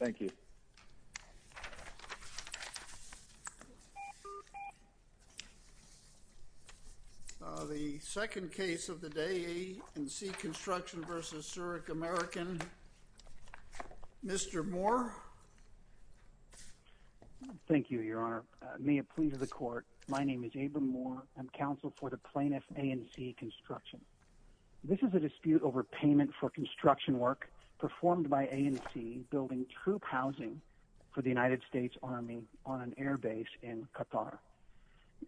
Thank you. The second case of the day, A&C Construction v. Zurich American, Mr. Moore. Thank you, Your Honor. May it please the court, my name is Abram Moore. I'm counsel for the plaintiff A&C Construction. This is a dispute over payment for construction work performed by A&C building troop housing for the United States Army on an airbase in Qatar.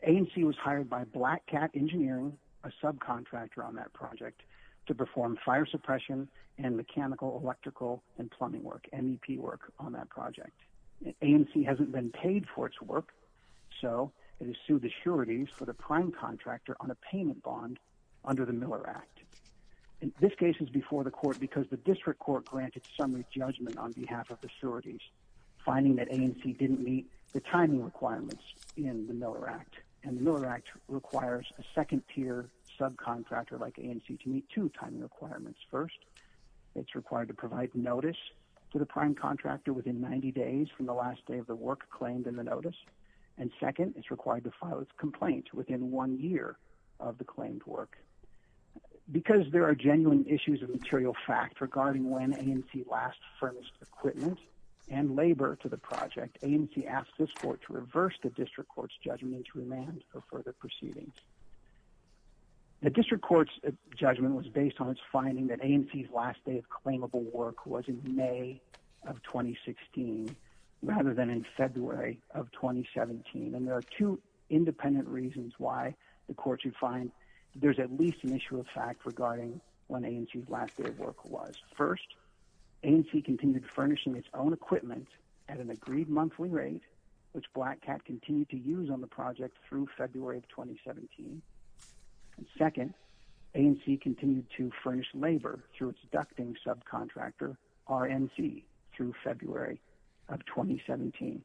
A&C was hired by Black Cat Engineering, a subcontractor on that project, to perform fire suppression and mechanical, electrical, and plumbing work, MEP work on that project. A&C hasn't been paid for its work, so it has sued the sureties for the prime contractor on a Miller Act. This case is before the court because the district court granted summary judgment on behalf of the sureties, finding that A&C didn't meet the timing requirements in the Miller Act, and the Miller Act requires a second-tier subcontractor like A&C to meet two timing requirements. First, it's required to provide notice to the prime contractor within 90 days from the last day of the work claimed in the notice, and second, it's required to file its complaint within one year of the claimed work. Because there are genuine issues of material fact regarding when A&C last furnished equipment and labor to the project, A&C asked this court to reverse the district court's judgment to remand for further proceedings. The district court's judgment was based on its finding that A&C's last day of claimable work was in May of 2016 rather than in February of 2017, and there are two independent reasons why the court should find there's at least an issue of fact regarding when A&C's last day of work was. First, A&C continued furnishing its own equipment at an agreed monthly rate, which Black Cat continued to use on the project through February of 2017, and second, A&C continued to furnish labor through its ducting subcontractor, RNC, through February of 2017.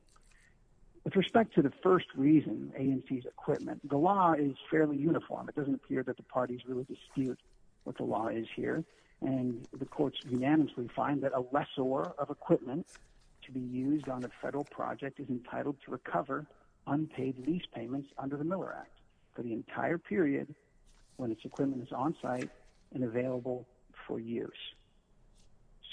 With respect to the first reason, A&C's equipment, the law is fairly uniform. It doesn't appear that the parties really dispute what the law is here, and the courts unanimously find that a lessor of equipment to be used on a federal project is entitled to recover unpaid lease payments under the Miller Act for the entire period when its equipment is on-site and available for use.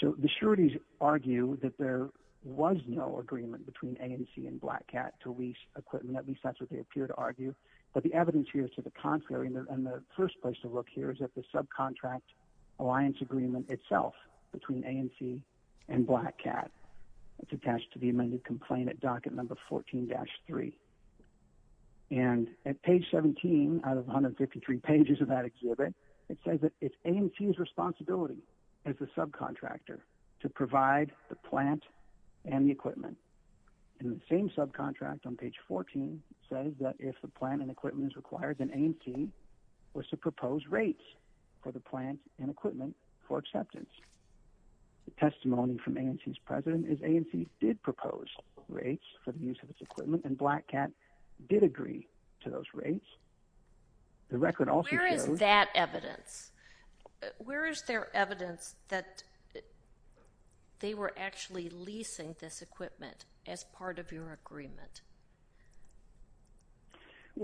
So the sureties argue that there was no agreement between A&C and Black Cat to lease equipment, at least that's what they appear to argue, but the evidence here is to the contrary, and the first place to look here is at the subcontract alliance agreement itself between A&C and Black Cat. It's attached to the amended complaint at docket number 14-3, and at page 17 out of 153 A&C has responsibility as a subcontractor to provide the plant and the equipment, and the same subcontract on page 14 says that if the plant and equipment is required, then A&C was to propose rates for the plant and equipment for acceptance. The testimony from A&C's president is A&C did propose rates for the use of its equipment, and Black Cat did agree to those rates. The record also shows... Where is there evidence that they were actually leasing this equipment as part of your agreement?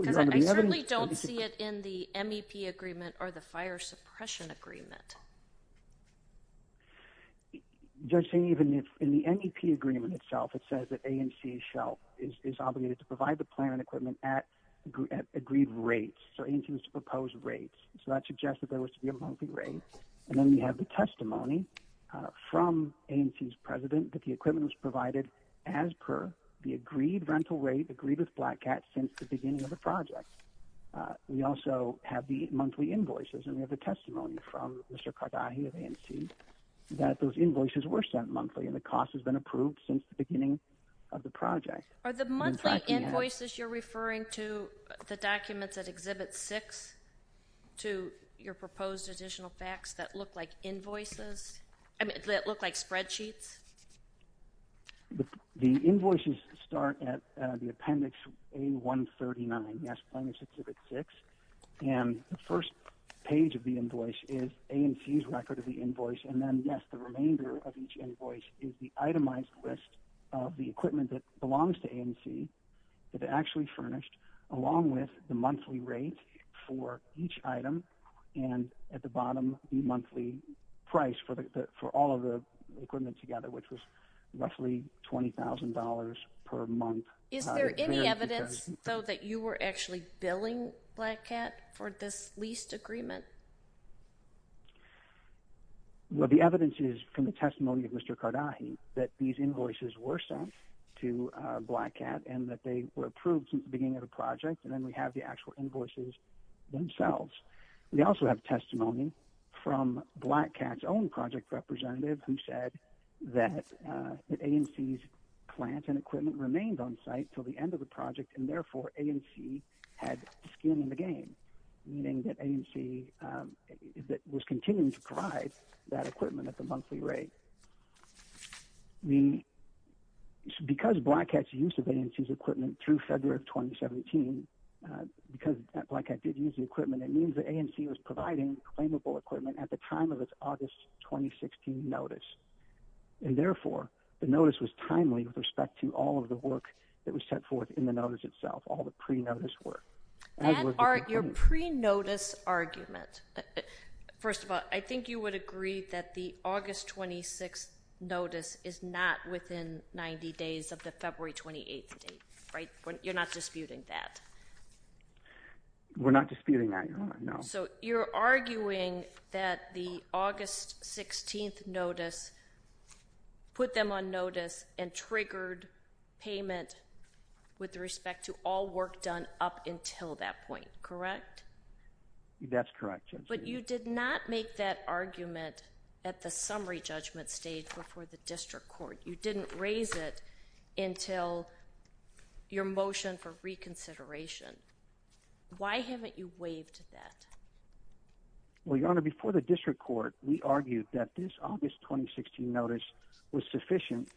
I certainly don't see it in the MEP agreement or the fire suppression agreement. Judge Saini, even if in the MEP agreement itself it says that A&C shall is obligated to provide the plant and equipment at agreed rates, so that suggests that there was to be a monthly rate, and then we have the testimony from A&C's president that the equipment was provided as per the agreed rental rate agreed with Black Cat since the beginning of the project. We also have the monthly invoices, and we have the testimony from Mr. Kardahi of A&C that those invoices were sent monthly, and the cost has been approved since the beginning of the project. Are the monthly invoices you're referring to the your proposed additional facts that look like invoices? I mean that look like spreadsheets? The invoices start at the appendix A139, and the first page of the invoice is A&C's record of the invoice, and then yes, the remainder of each invoice is the itemized list of the equipment that belongs to A&C that and at the bottom the monthly price for the for all of the equipment together which was roughly $20,000 per month. Is there any evidence though that you were actually billing Black Cat for this leased agreement? Well the evidence is from the testimony of Mr. Kardahi that these invoices were sent to Black Cat and that they were approved since the beginning of the project, and then we have the actual invoices themselves. We also have testimony from Black Cat's own project representative who said that A&C's plant and equipment remained on site till the end of the project, and therefore A&C had skin in the game, meaning that A&C was continuing to provide that equipment at the monthly rate. Because Black Cat's use of A&C's equipment through February of 2017 because Black Cat did use the equipment, it means that A&C was providing claimable equipment at the time of its August 2016 notice, and therefore the notice was timely with respect to all of the work that was set forth in the notice itself, all the pre-notice work. That's your pre-notice argument. First of all, I think you would agree that the August 26 notice is not within 90 days of the We're not disputing that. So you're arguing that the August 16th notice put them on notice and triggered payment with respect to all work done up until that point, correct? That's correct. But you did not make that argument at the summary judgment stage before the district court. You didn't raise it until your motion for reconsideration. Why haven't you waived that? Well, Your Honor, before the district court, we argued that this August 2016 notice was sufficient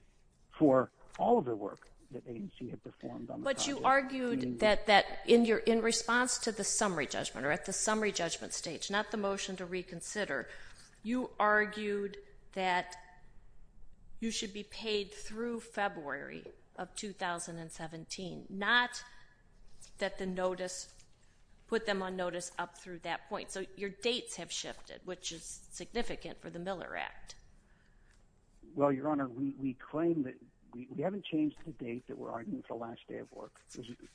for all of the work that A&C had performed on the project. But you argued that in response to the summary judgment, or at the summary judgment stage, not the motion to reconsider, you argued that you should be paid through February of 2017, not that the notice put them on notice up through that point. So your dates have shifted, which is significant for the Miller Act. Well, Your Honor, we claim that we haven't changed the date that we're arguing for the last day of work.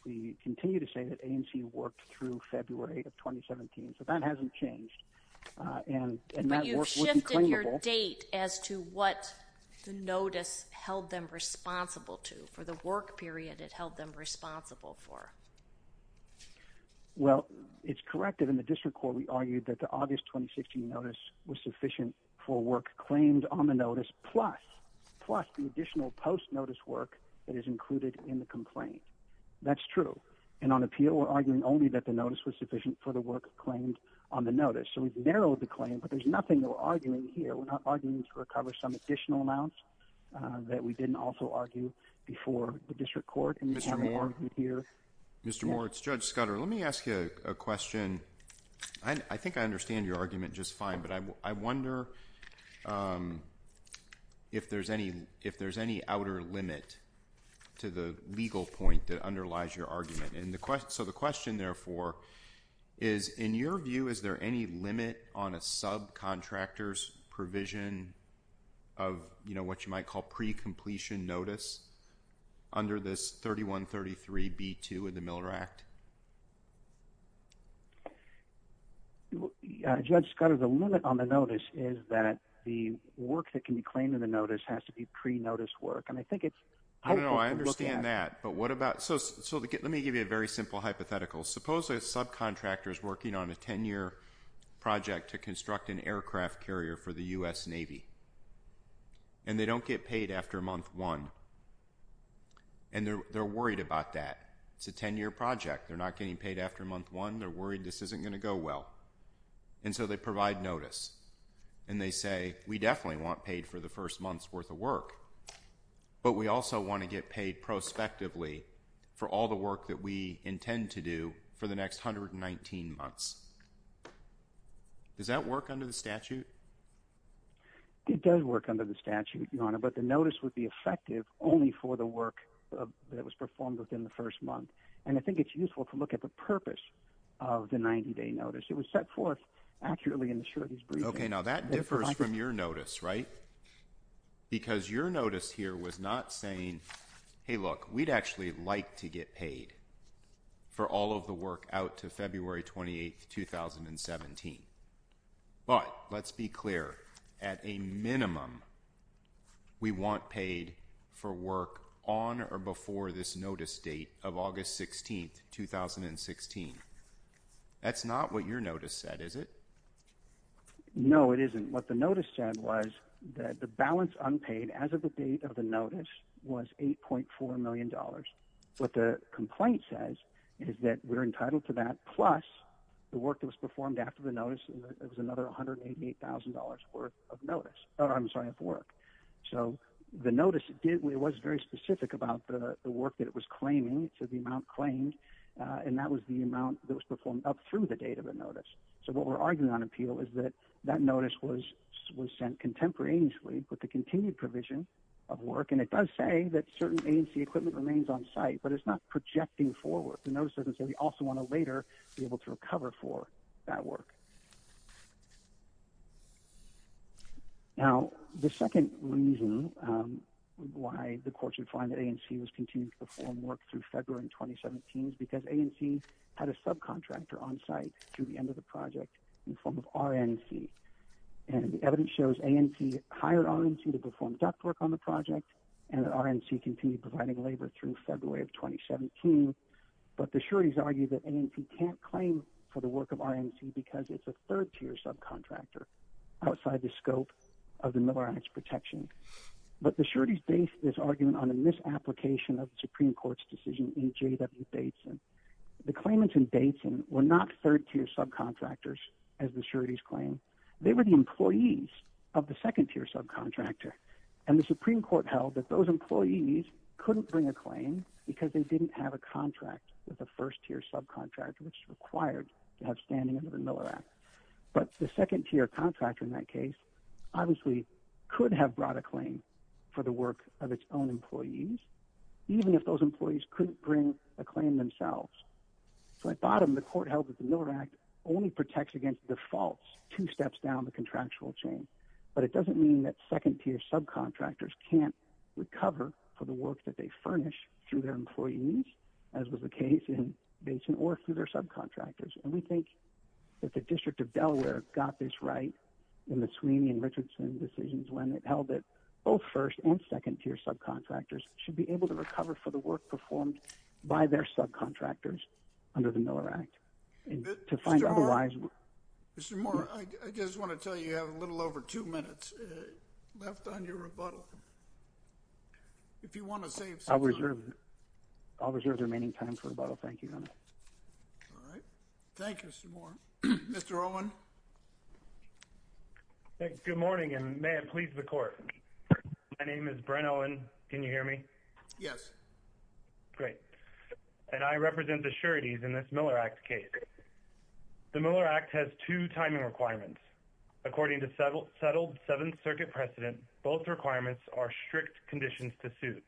We continue to say that A&C worked through February of 2017. So that hasn't changed. But you've shifted your date as to what the notice held them responsible to for the work period it held them responsible for. Well, it's correct that in the district court we argued that the August 2016 notice was sufficient for work claimed on the notice, plus the additional post notice work that is included in the complaint. That's true. And on appeal, we're arguing only that the notice was sufficient for the work claimed on the notice. So we've narrowed the claim, but there's nothing that we're arguing here. We're not Mr. Moore, it's Judge Scudder. Let me ask you a question. I think I understand your argument just fine, but I wonder if there's any if there's any outer limit to the legal point that underlies your argument. And the question, so the question therefore is, in your view, is there any limit on a subcontractor's of, you know, what you might call pre-completion notice under this 3133 B2 of the Miller Act? Judge Scudder, the limit on the notice is that the work that can be claimed in the notice has to be pre-notice work, and I think it's I don't know, I understand that, but what about, so let me give you a very simple hypothetical. Suppose a subcontractor is working on a 10-year project to and they don't get paid after month one, and they're worried about that. It's a 10-year project. They're not getting paid after month one. They're worried this isn't going to go well, and so they provide notice, and they say we definitely want paid for the first month's worth of work, but we also want to get paid prospectively for all the work that we intend to do for the next 119 months. Does that work under the statute? It does work under the statute, Your Honor, but the notice would be effective only for the work that was performed within the first month, and I think it's useful to look at the purpose of the 90-day notice. It was set forth accurately in the sureties briefing. Okay, now that differs from your notice, right? Because your notice here was not saying, hey, look, we'd actually like to get paid for all of the work out to February 28th, 2017, but let's be clear. At a minimum, we want paid for work on or before this notice date of August 16th, 2016. That's not what your notice said, is it? No, it isn't. What the notice said was that the balance unpaid as of the date of the notice was $8.4 million. What the complaint says is that we're entitled to that, plus the work that was performed after the notice was another $188,000 worth of notice. Oh, I'm sorry, of work. So the notice was very specific about the work that it was claiming, so the amount claimed, and that was the amount that was performed up through the date of the notice. So what we're arguing on appeal is that that notice was was sent contemporaneously with the notice, and it does say that certain A&C equipment remains on site, but it's not projecting forward. The notice doesn't say we also want to later be able to recover for that work. Now, the second reason why the court should find that A&C was continuing to perform work through February 2017 is because A&C had a subcontractor on site through the end of the project in form of RNC, and the RNC continued providing labor through February of 2017, but the sureties argue that A&C can't claim for the work of RNC because it's a third-tier subcontractor outside the scope of the Miller Act's protection. But the sureties base this argument on a misapplication of the Supreme Court's decision in J.W. Bateson. The claimants in Bateson were not third-tier subcontractors, as the sureties claim. They were the employees of the second-tier subcontractor, and the those employees couldn't bring a claim because they didn't have a contract with the first-tier subcontractor, which is required to have standing under the Miller Act. But the second-tier contractor in that case obviously could have brought a claim for the work of its own employees, even if those employees couldn't bring a claim themselves. So at bottom, the court held that the Miller Act only protects against defaults two steps down the contractual chain, but it should be able to recover for the work that they furnish through their employees, as was the case in Bateson, or through their subcontractors. And we think that the District of Delaware got this right in the Sweeney and Richardson decisions when it held that both first- and second-tier subcontractors should be able to recover for the work performed by their subcontractors under the Miller Act. Mr. Moore, I just want to tell you, you have a little over two minutes left on your rebuttal. If you want to save some time. I'll reserve the remaining time for rebuttal. Thank you, Your Honor. All right. Thank you, Mr. Moore. Mr. Owen? Good morning, and may it please the Court. My name is Brent Owen. Can you hear me? Yes. Great. And I represent the sureties in this Miller Act case. The Miller Act has two timing requirements. According to settled Seventh Circuit precedent, both requirements are strict conditions to suit.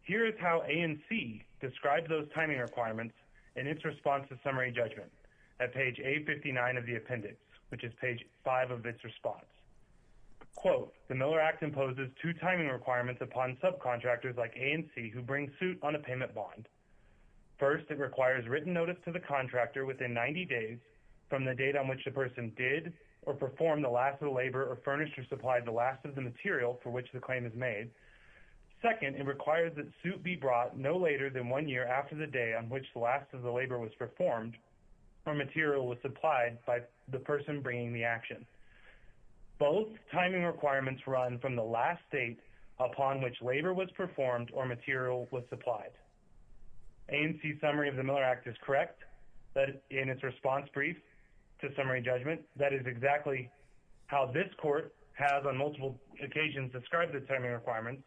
Here is how A&C describes those timing requirements in its response to summary judgment at page 859 of the appendix, which is page 5 of its response. Quote, the Miller Act imposes two timing requirements upon subcontractors like A&C who bring suit on a payment bond. First, it requires written notice to the contractor within 90 days from the date on which the person did or performed the last of the labor or furnished or supplied the last of the material for which the claim is made. Second, it requires that suit be brought no later than one year after the day on which the last of the labor was performed or material was supplied by the person bringing the action. Both timing requirements run from the last date upon which labor was performed or material was supplied. A&C's summary of the Miller Act is correct in its response brief to summary judgment. That is exactly how this Court has on multiple occasions described the timing requirements,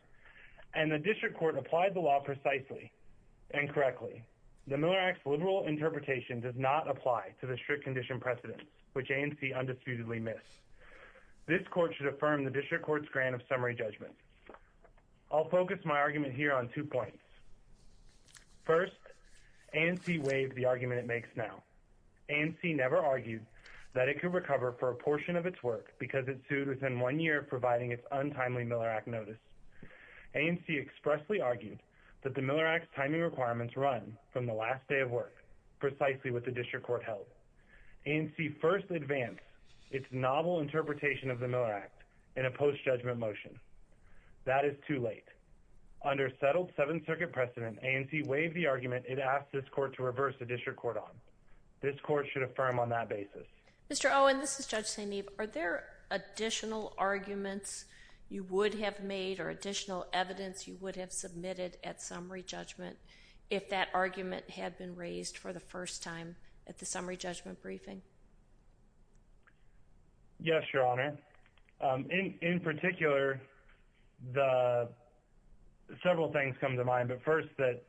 and the District Court applied the law precisely and correctly. The Miller Act's liberal interpretation does not apply to the strict condition precedent, which A&C undisputedly missed. This Court should affirm the District Court's grant of summary judgment. I'll focus my argument here on two points. First, A&C waived the argument it makes now. A&C never argued that it could recover for a portion of its work because it sued within one year of providing its untimely Miller Act notice. A&C expressly argued that the Miller Act's timing requirements run from the last day of work, precisely what the District Court held. A&C first advanced its novel interpretation of the Miller Act in a post-judgment motion. That is too late. Under settled Seventh Circuit precedent, A&C waived the argument it asked this Court to reverse the District Court on. This Court should affirm on that basis. Mr. Owen, this is Judge St. Neve. Are there additional arguments you would have made or additional evidence you would have submitted at summary judgment if that argument had been raised for the first time at the summary judgment briefing? Yes, Your Honor. In particular, the several things come to mind, but first that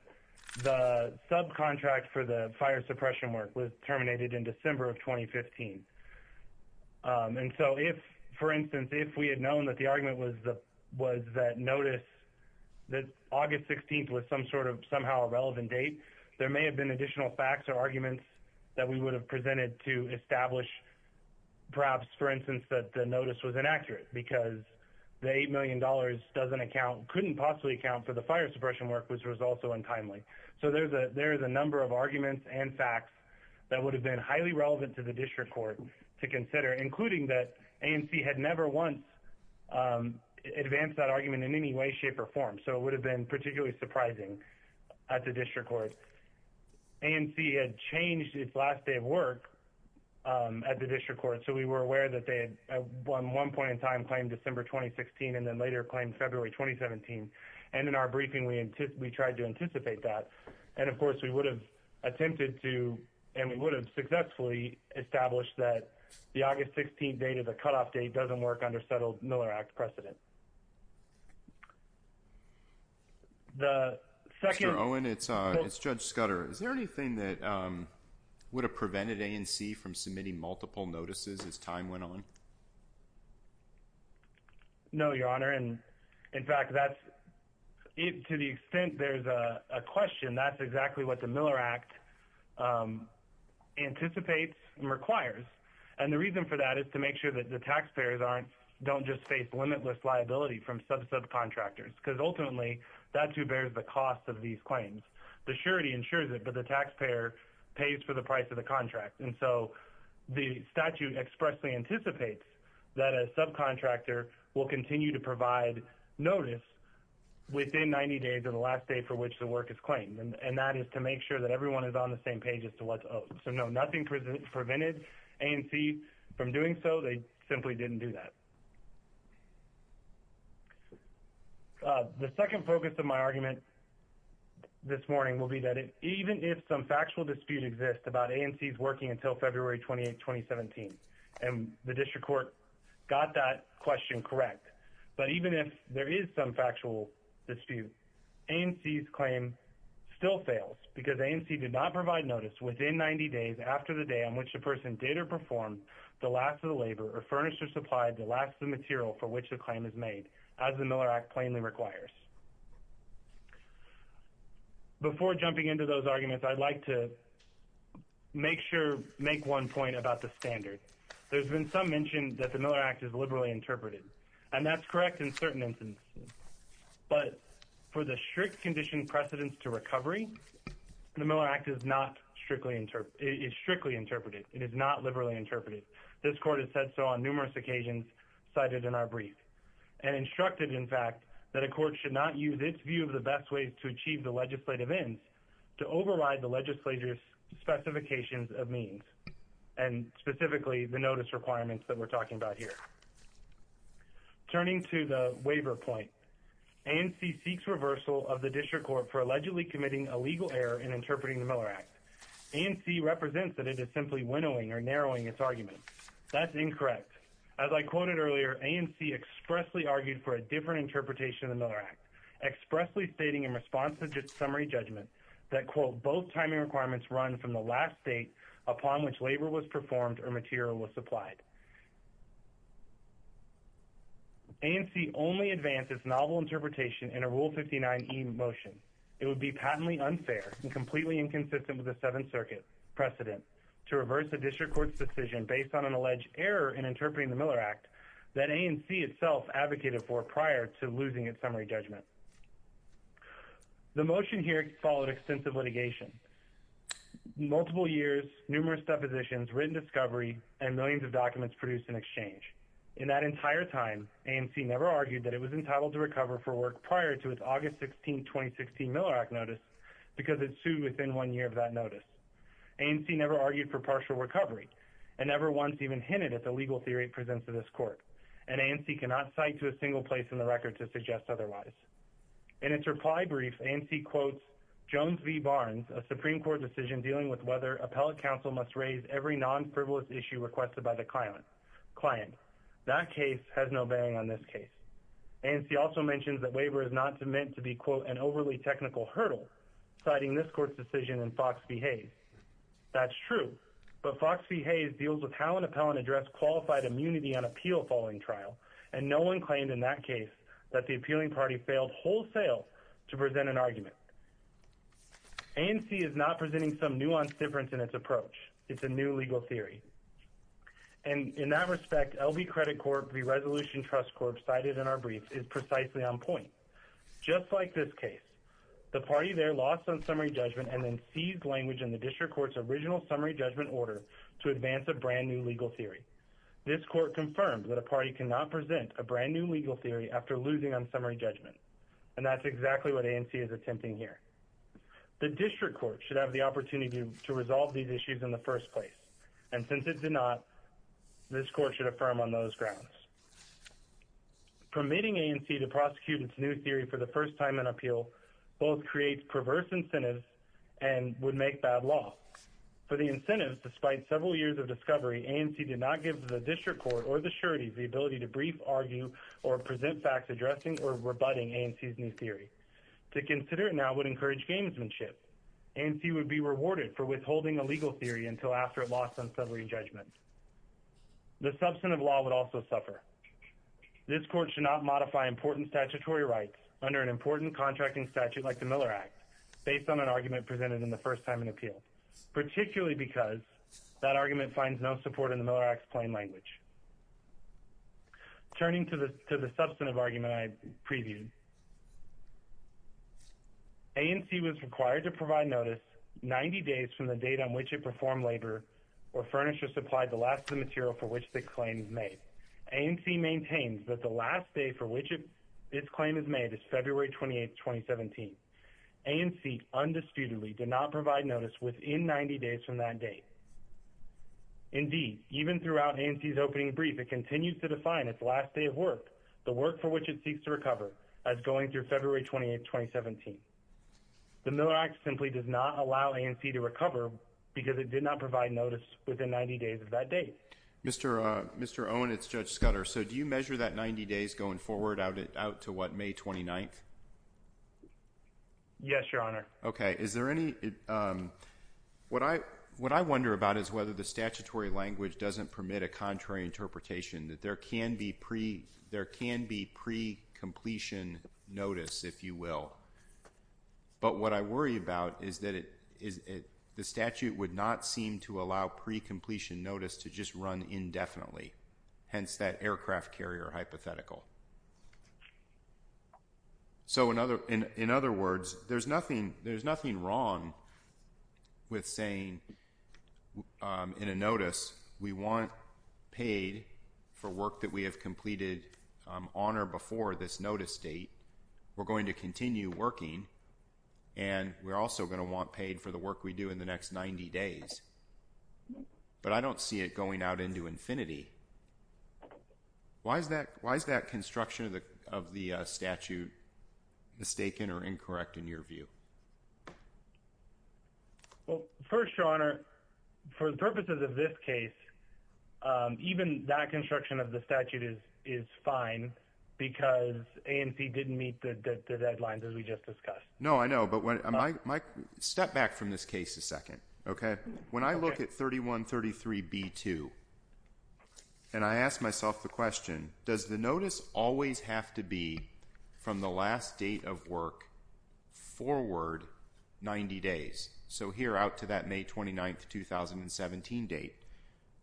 the subcontract for the fire suppression work was terminated in December of 2015. And so if, for instance, if we had known that the argument was that notice that August 16th was some sort of somehow a relevant date, there may have been additional facts or arguments that we would have presented to establish, perhaps, for instance, that the notice was inaccurate because the $8 million doesn't account, couldn't possibly account for the fire suppression work, which was also untimely. So there's a number of arguments and facts that would have been highly relevant to the District Court to consider, including that A&C had never once advanced that argument in any way, shape, or form. So it would have been changed its last day of work at the District Court. So we were aware that they had, at one point in time, claimed December 2016 and then later claimed February 2017. And in our briefing, we tried to anticipate that. And, of course, we would have attempted to and we would have successfully established that the August 16th date of the cutoff date doesn't work under settled Miller Act precedent. Mr. Owen, it's Judge Scudder. Is there anything that would have prevented A&C from submitting multiple notices as time went on? No, Your Honor. And, in fact, that's, to the extent there's a question, that's exactly what the Miller Act anticipates and requires. And the reason for that is to make sure that the taxpayers don't just face limitless liability from sub subcontractors. Because, ultimately, that's who bears the cost of these claims. The surety insures it, but the taxpayer pays for the price of the contract. And so the statute expressly anticipates that a subcontractor will continue to provide notice within 90 days of the last day for which the work is claimed. And that is to make sure that everyone is on the same page as to what's being prevented A&C from doing so. They simply didn't do that. The second focus of my argument this morning will be that even if some factual dispute exists about A&C's working until February 28th, 2017, and the District Court got that question correct, but even if there is some factual dispute, A&C's claim still fails because A&C did not provide notice within 90 days after the day on which the person did or performed the last of the labor or furnished or supplied the last of the material for which the claim is made, as the Miller Act plainly requires. Before jumping into those arguments, I'd like to make sure make one point about the standard. There's been some mention that the Miller Act is liberally interpreted, and that's correct in certain instances. But for the strict condition precedence to recovery, the Miller Act is not strictly interpreted. It is not liberally interpreted. This court has said so on numerous occasions cited in our brief, and instructed in fact that a court should not use its view of the best ways to achieve the legislative ends to override the legislature's specifications of means, and specifically the notice requirements that we're talking about here. Turning to the waiver point, A&C seeks reversal of the District Court for allegedly committing a legal error in interpreting the Miller Act. A&C represents that it is simply winnowing or narrowing its arguments. That's incorrect. As I quoted earlier, A&C expressly argued for a different interpretation of the Miller Act, expressly stating in response to its summary judgment that, quote, both timing requirements run from the last date upon which labor was performed or material was supplied. A&C only advances novel interpretation in a Rule 59E motion. It would be patently unfair and completely inconsistent with the Seventh Circuit precedent to reverse the District Court's decision based on an alleged error in interpreting the Miller Act that A&C itself advocated for prior to losing its summary judgment. The motion here followed extensive litigation, multiple years, numerous depositions, written discovery, and millions of documents produced in exchange. In that entire time, A&C never argued that it was entitled to recover for work prior to its August 16, 2016 Miller Act notice because it sued within one year of that notice. A&C never argued for partial recovery and never once even hinted at the legal theory it presents to this Court, and A&C cannot cite to a single place in the record to suggest otherwise. In its reply brief, A&C quotes Jones v. Barnes, a Supreme Court decision dealing with whether appellate counsel must raise every non-frivolous issue requested by the waiver is not meant to be, quote, an overly technical hurdle, citing this Court's decision in Fox v. Hayes. That's true, but Fox v. Hayes deals with how an appellant addressed qualified immunity on appeal following trial, and no one claimed in that case that the appealing party failed wholesale to present an argument. A&C is not presenting some nuanced difference in its approach. It's a new legal theory. And in that respect, LB Credit Corp., the Resolution Trust Corp. cited in our brief, is precisely on point. Just like this case, the party there lost on summary judgment and then seized language in the District Court's original summary judgment order to advance a brand new legal theory. This Court confirmed that a party cannot present a brand new legal theory after losing on summary judgment, and that's exactly what A&C is attempting here. The District Court should have the opportunity to resolve these issues in the first place, and since it did not, this Court should affirm on those Permitting A&C to prosecute its new theory for the first time on appeal both creates perverse incentives and would make bad law. For the incentives, despite several years of discovery, A&C did not give the District Court or the sureties the ability to brief, argue, or present facts addressing or rebutting A&C's new theory. To consider it now would encourage gamesmanship. A&C would be rewarded for withholding a legal theory until after it lost on summary judgment. The substantive law would also suffer. This Court should not modify important statutory rights under an important contracting statute like the Miller Act based on an argument presented in the first time in appeal, particularly because that argument finds no support in the Miller Act's plain language. Turning to the substantive argument I previewed, A&C was required to provide notice 90 days from the date on which it performed labor or furnished or supplied the last of the material for which the claim is made. A&C maintains that the last day for which its claim is made is February 28, 2017. A&C undisputedly did not provide notice within 90 days from that date. Indeed, even throughout A&C's opening brief, it continues to define its last day of work, the work for which it seeks to recover, as going through February 28, 2017. The Miller Act simply does not allow A&C to recover because it did not provide notice within 90 days of that date. Mr. Owen, it's Judge Scudder. So do you measure that 90 days going forward out to what, May 29th? Yes, your Honor. Okay. What I wonder about is whether the statutory language doesn't permit a contrary interpretation, that there can be pre-completion notice, if you will. But what I worry about is the statute would not seem to allow pre-completion notice to just run indefinitely, hence that aircraft carrier hypothetical. So in other words, there's nothing wrong with saying in a notice, we want paid for work that we have completed on or before this notice date. We're going to continue working, and we're also going to want paid for the work we do in the next 90 days. But I don't see it going out into infinity. Why is that construction of the statute mistaken or incorrect in your view? Well, first, your Honor, for the purposes of this case, even that construction of the statute is fine, because ANC didn't meet the deadlines as we just discussed. No, I know. But step back from this case a second, okay? When I look at 3133b-2, and I ask myself the question, does the notice always have to be from the last date of work forward 90 days? So here, out to that May 29th, 2017 date,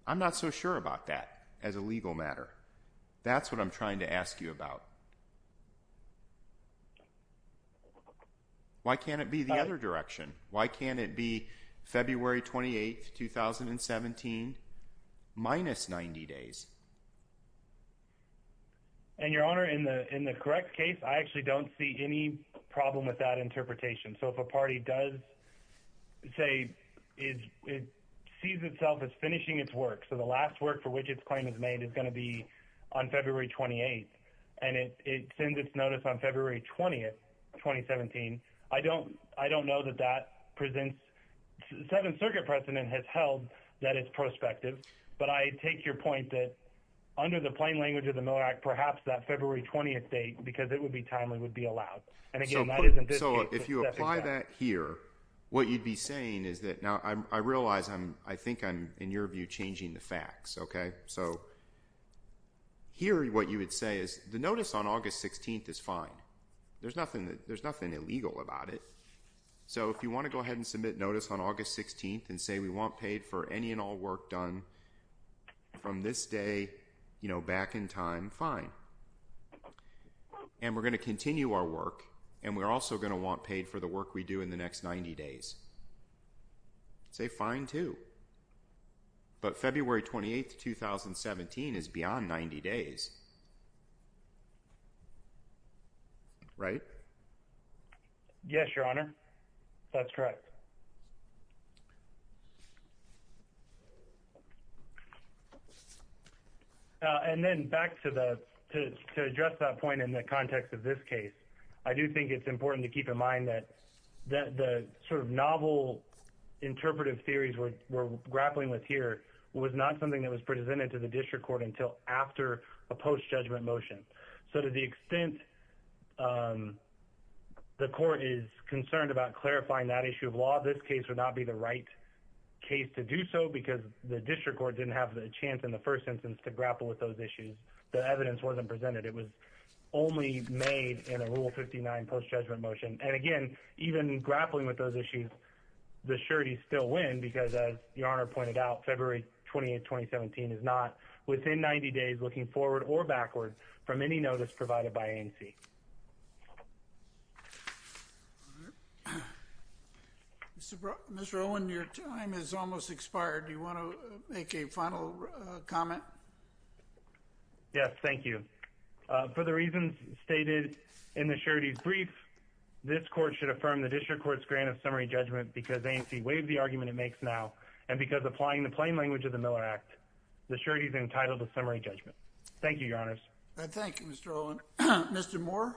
I'm not so sure about that as a legal matter. That's what I'm trying to ask you about. Why can't it be the other direction? Why can't it be February 28th, 2017, minus 90 days? And your Honor, in the correct case, I actually don't see any problem with that interpretation. So if a party does say it sees itself as finishing its work, so the last work for which its claim is made is going to be on February 28th, and it sends its notice on February 20th, 2017, I don't know that that presents...the Seventh Circuit precedent has held that it's prospective, but I take your point that under the plain language of the Miller Act, perhaps that February 20th date, because it would be timely, would be allowed. So if you apply that here, what you'd be saying is that, now I realize I'm, I think I'm, in your view, changing the facts, okay? So here what you would say is the notice on August 16th is fine. There's nothing that, there's nothing illegal about it. So if you want to go ahead and submit notice on August 16th and say we want paid for any and all work done from this day, you know, back in time, fine. And we're going to continue our work, and we're also going to want paid for the work we do in the next 90 days. Say fine, too. But February 28th, to the, to address that point in the context of this case, I do think it's important to keep in mind that the sort of novel interpretive theories we're grappling with here was not something that was presented to the district court until after a post-judgment motion. So to the extent the court is concerned about clarifying that issue of law, this case would not be the right case to do so because the district court didn't have the chance in the first instance to clarify that issue of law. So I think it's important to keep in mind that the evidence wasn't presented. It was only made in a Rule 59 post-judgment motion. And again, even grappling with those issues, the sureties still win because, as your Honor pointed out, February 28th, 2017 is not within 90 days looking forward or backwards from any notice provided by A&C. All right. Mr. Owen, your time is almost expired. Do you want to make a final comment? Yes, thank you. For the reasons stated in the sureties brief, this court should affirm the district court's grant of summary judgment because A&C waived the argument it makes now and because applying the plain language of the Miller Act, the sureties are entitled to summary judgment. Thank you, Your Honors. Thank you, Mr. Owen. Mr. Moore?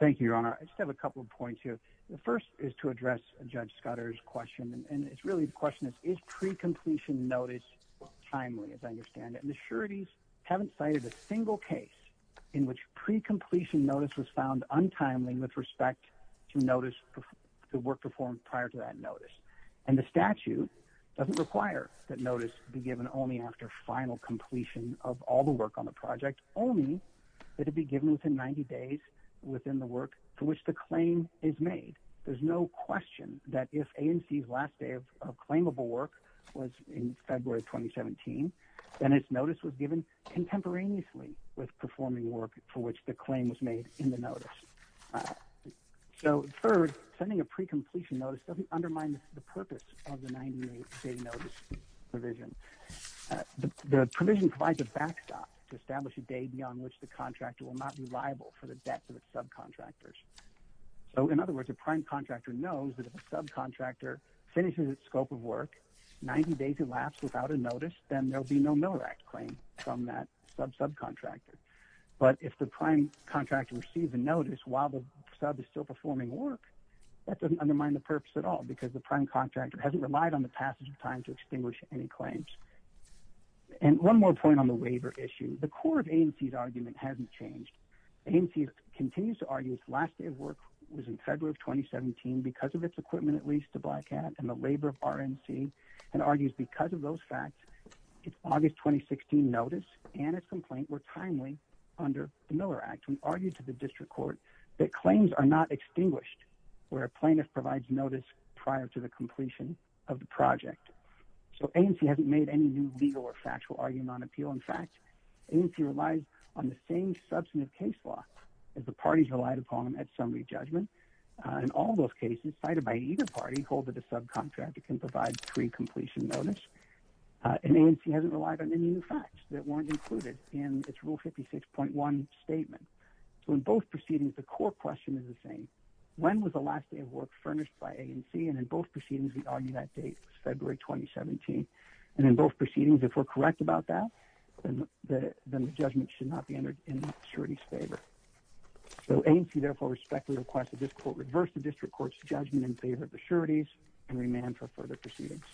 Thank you, Your Honor. I just have a couple of points here. The first is to address Judge Scudder's question, and it's really the question is, is pre-completion notice timely, as I understand it? And the sureties haven't cited a single case in which pre-completion notice was found untimely with respect to notice the work performed prior to that notice. And the statute doesn't require that notice be given only after final completion of all the work on the project, only that it be given within 90 days within the work to which the claim is made. There's no question that if A&C's last day of claimable work was in February of 2017, then its notice was given contemporaneously with performing work for which the claim was made in the notice. So third, sending a pre-completion notice doesn't undermine the purpose of the 90-day notice provision. The provision provides a backstop to establish a day beyond which the contractor will not be liable for the debt of its subcontractors. So in other words, a prime contractor knows that if a subcontractor finishes its scope of work 90 days elapsed without a notice, then there'll be no Miller Act claim from that sub-subcontractor. But if the prime contractor receives a notice while the sub is still performing work, that doesn't undermine the purpose at all, because the prime contractor hasn't relied on the passage of time to extinguish any claims. And one more point on the waiver issue. The core of A&C's argument hasn't changed. A&C continues to argue its last day of work was in February of 2017 because of its equipment at lease to Black Hat and the labor of RNC, and argues because of those facts, its August 2016 notice and its complaint were timely under the Miller Act. We argued to the district court that plaintiff provides notice prior to the completion of the project. So A&C hasn't made any new legal or factual argument on appeal. In fact, A&C relies on the same substantive case law as the parties relied upon at summary judgment. In all those cases, cited by either party, hold that a subcontractor can provide pre- completion notice. And A&C hasn't relied on any new facts that weren't included in its rule 56.1 statement. So in both proceedings, the core question is the last day of work furnished by A&C, and in both proceedings, we argue that date was February 2017. And in both proceedings, if we're correct about that, then the judgment should not be entered in the surety's favor. So A&C therefore respectfully requests that this court reverse the district court's judgment in favor of the sureties and remand for further proceedings.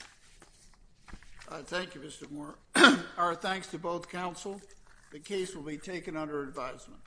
Thank you, Mr. Moore. Our thanks to both counsel. The case will be taken under advisement.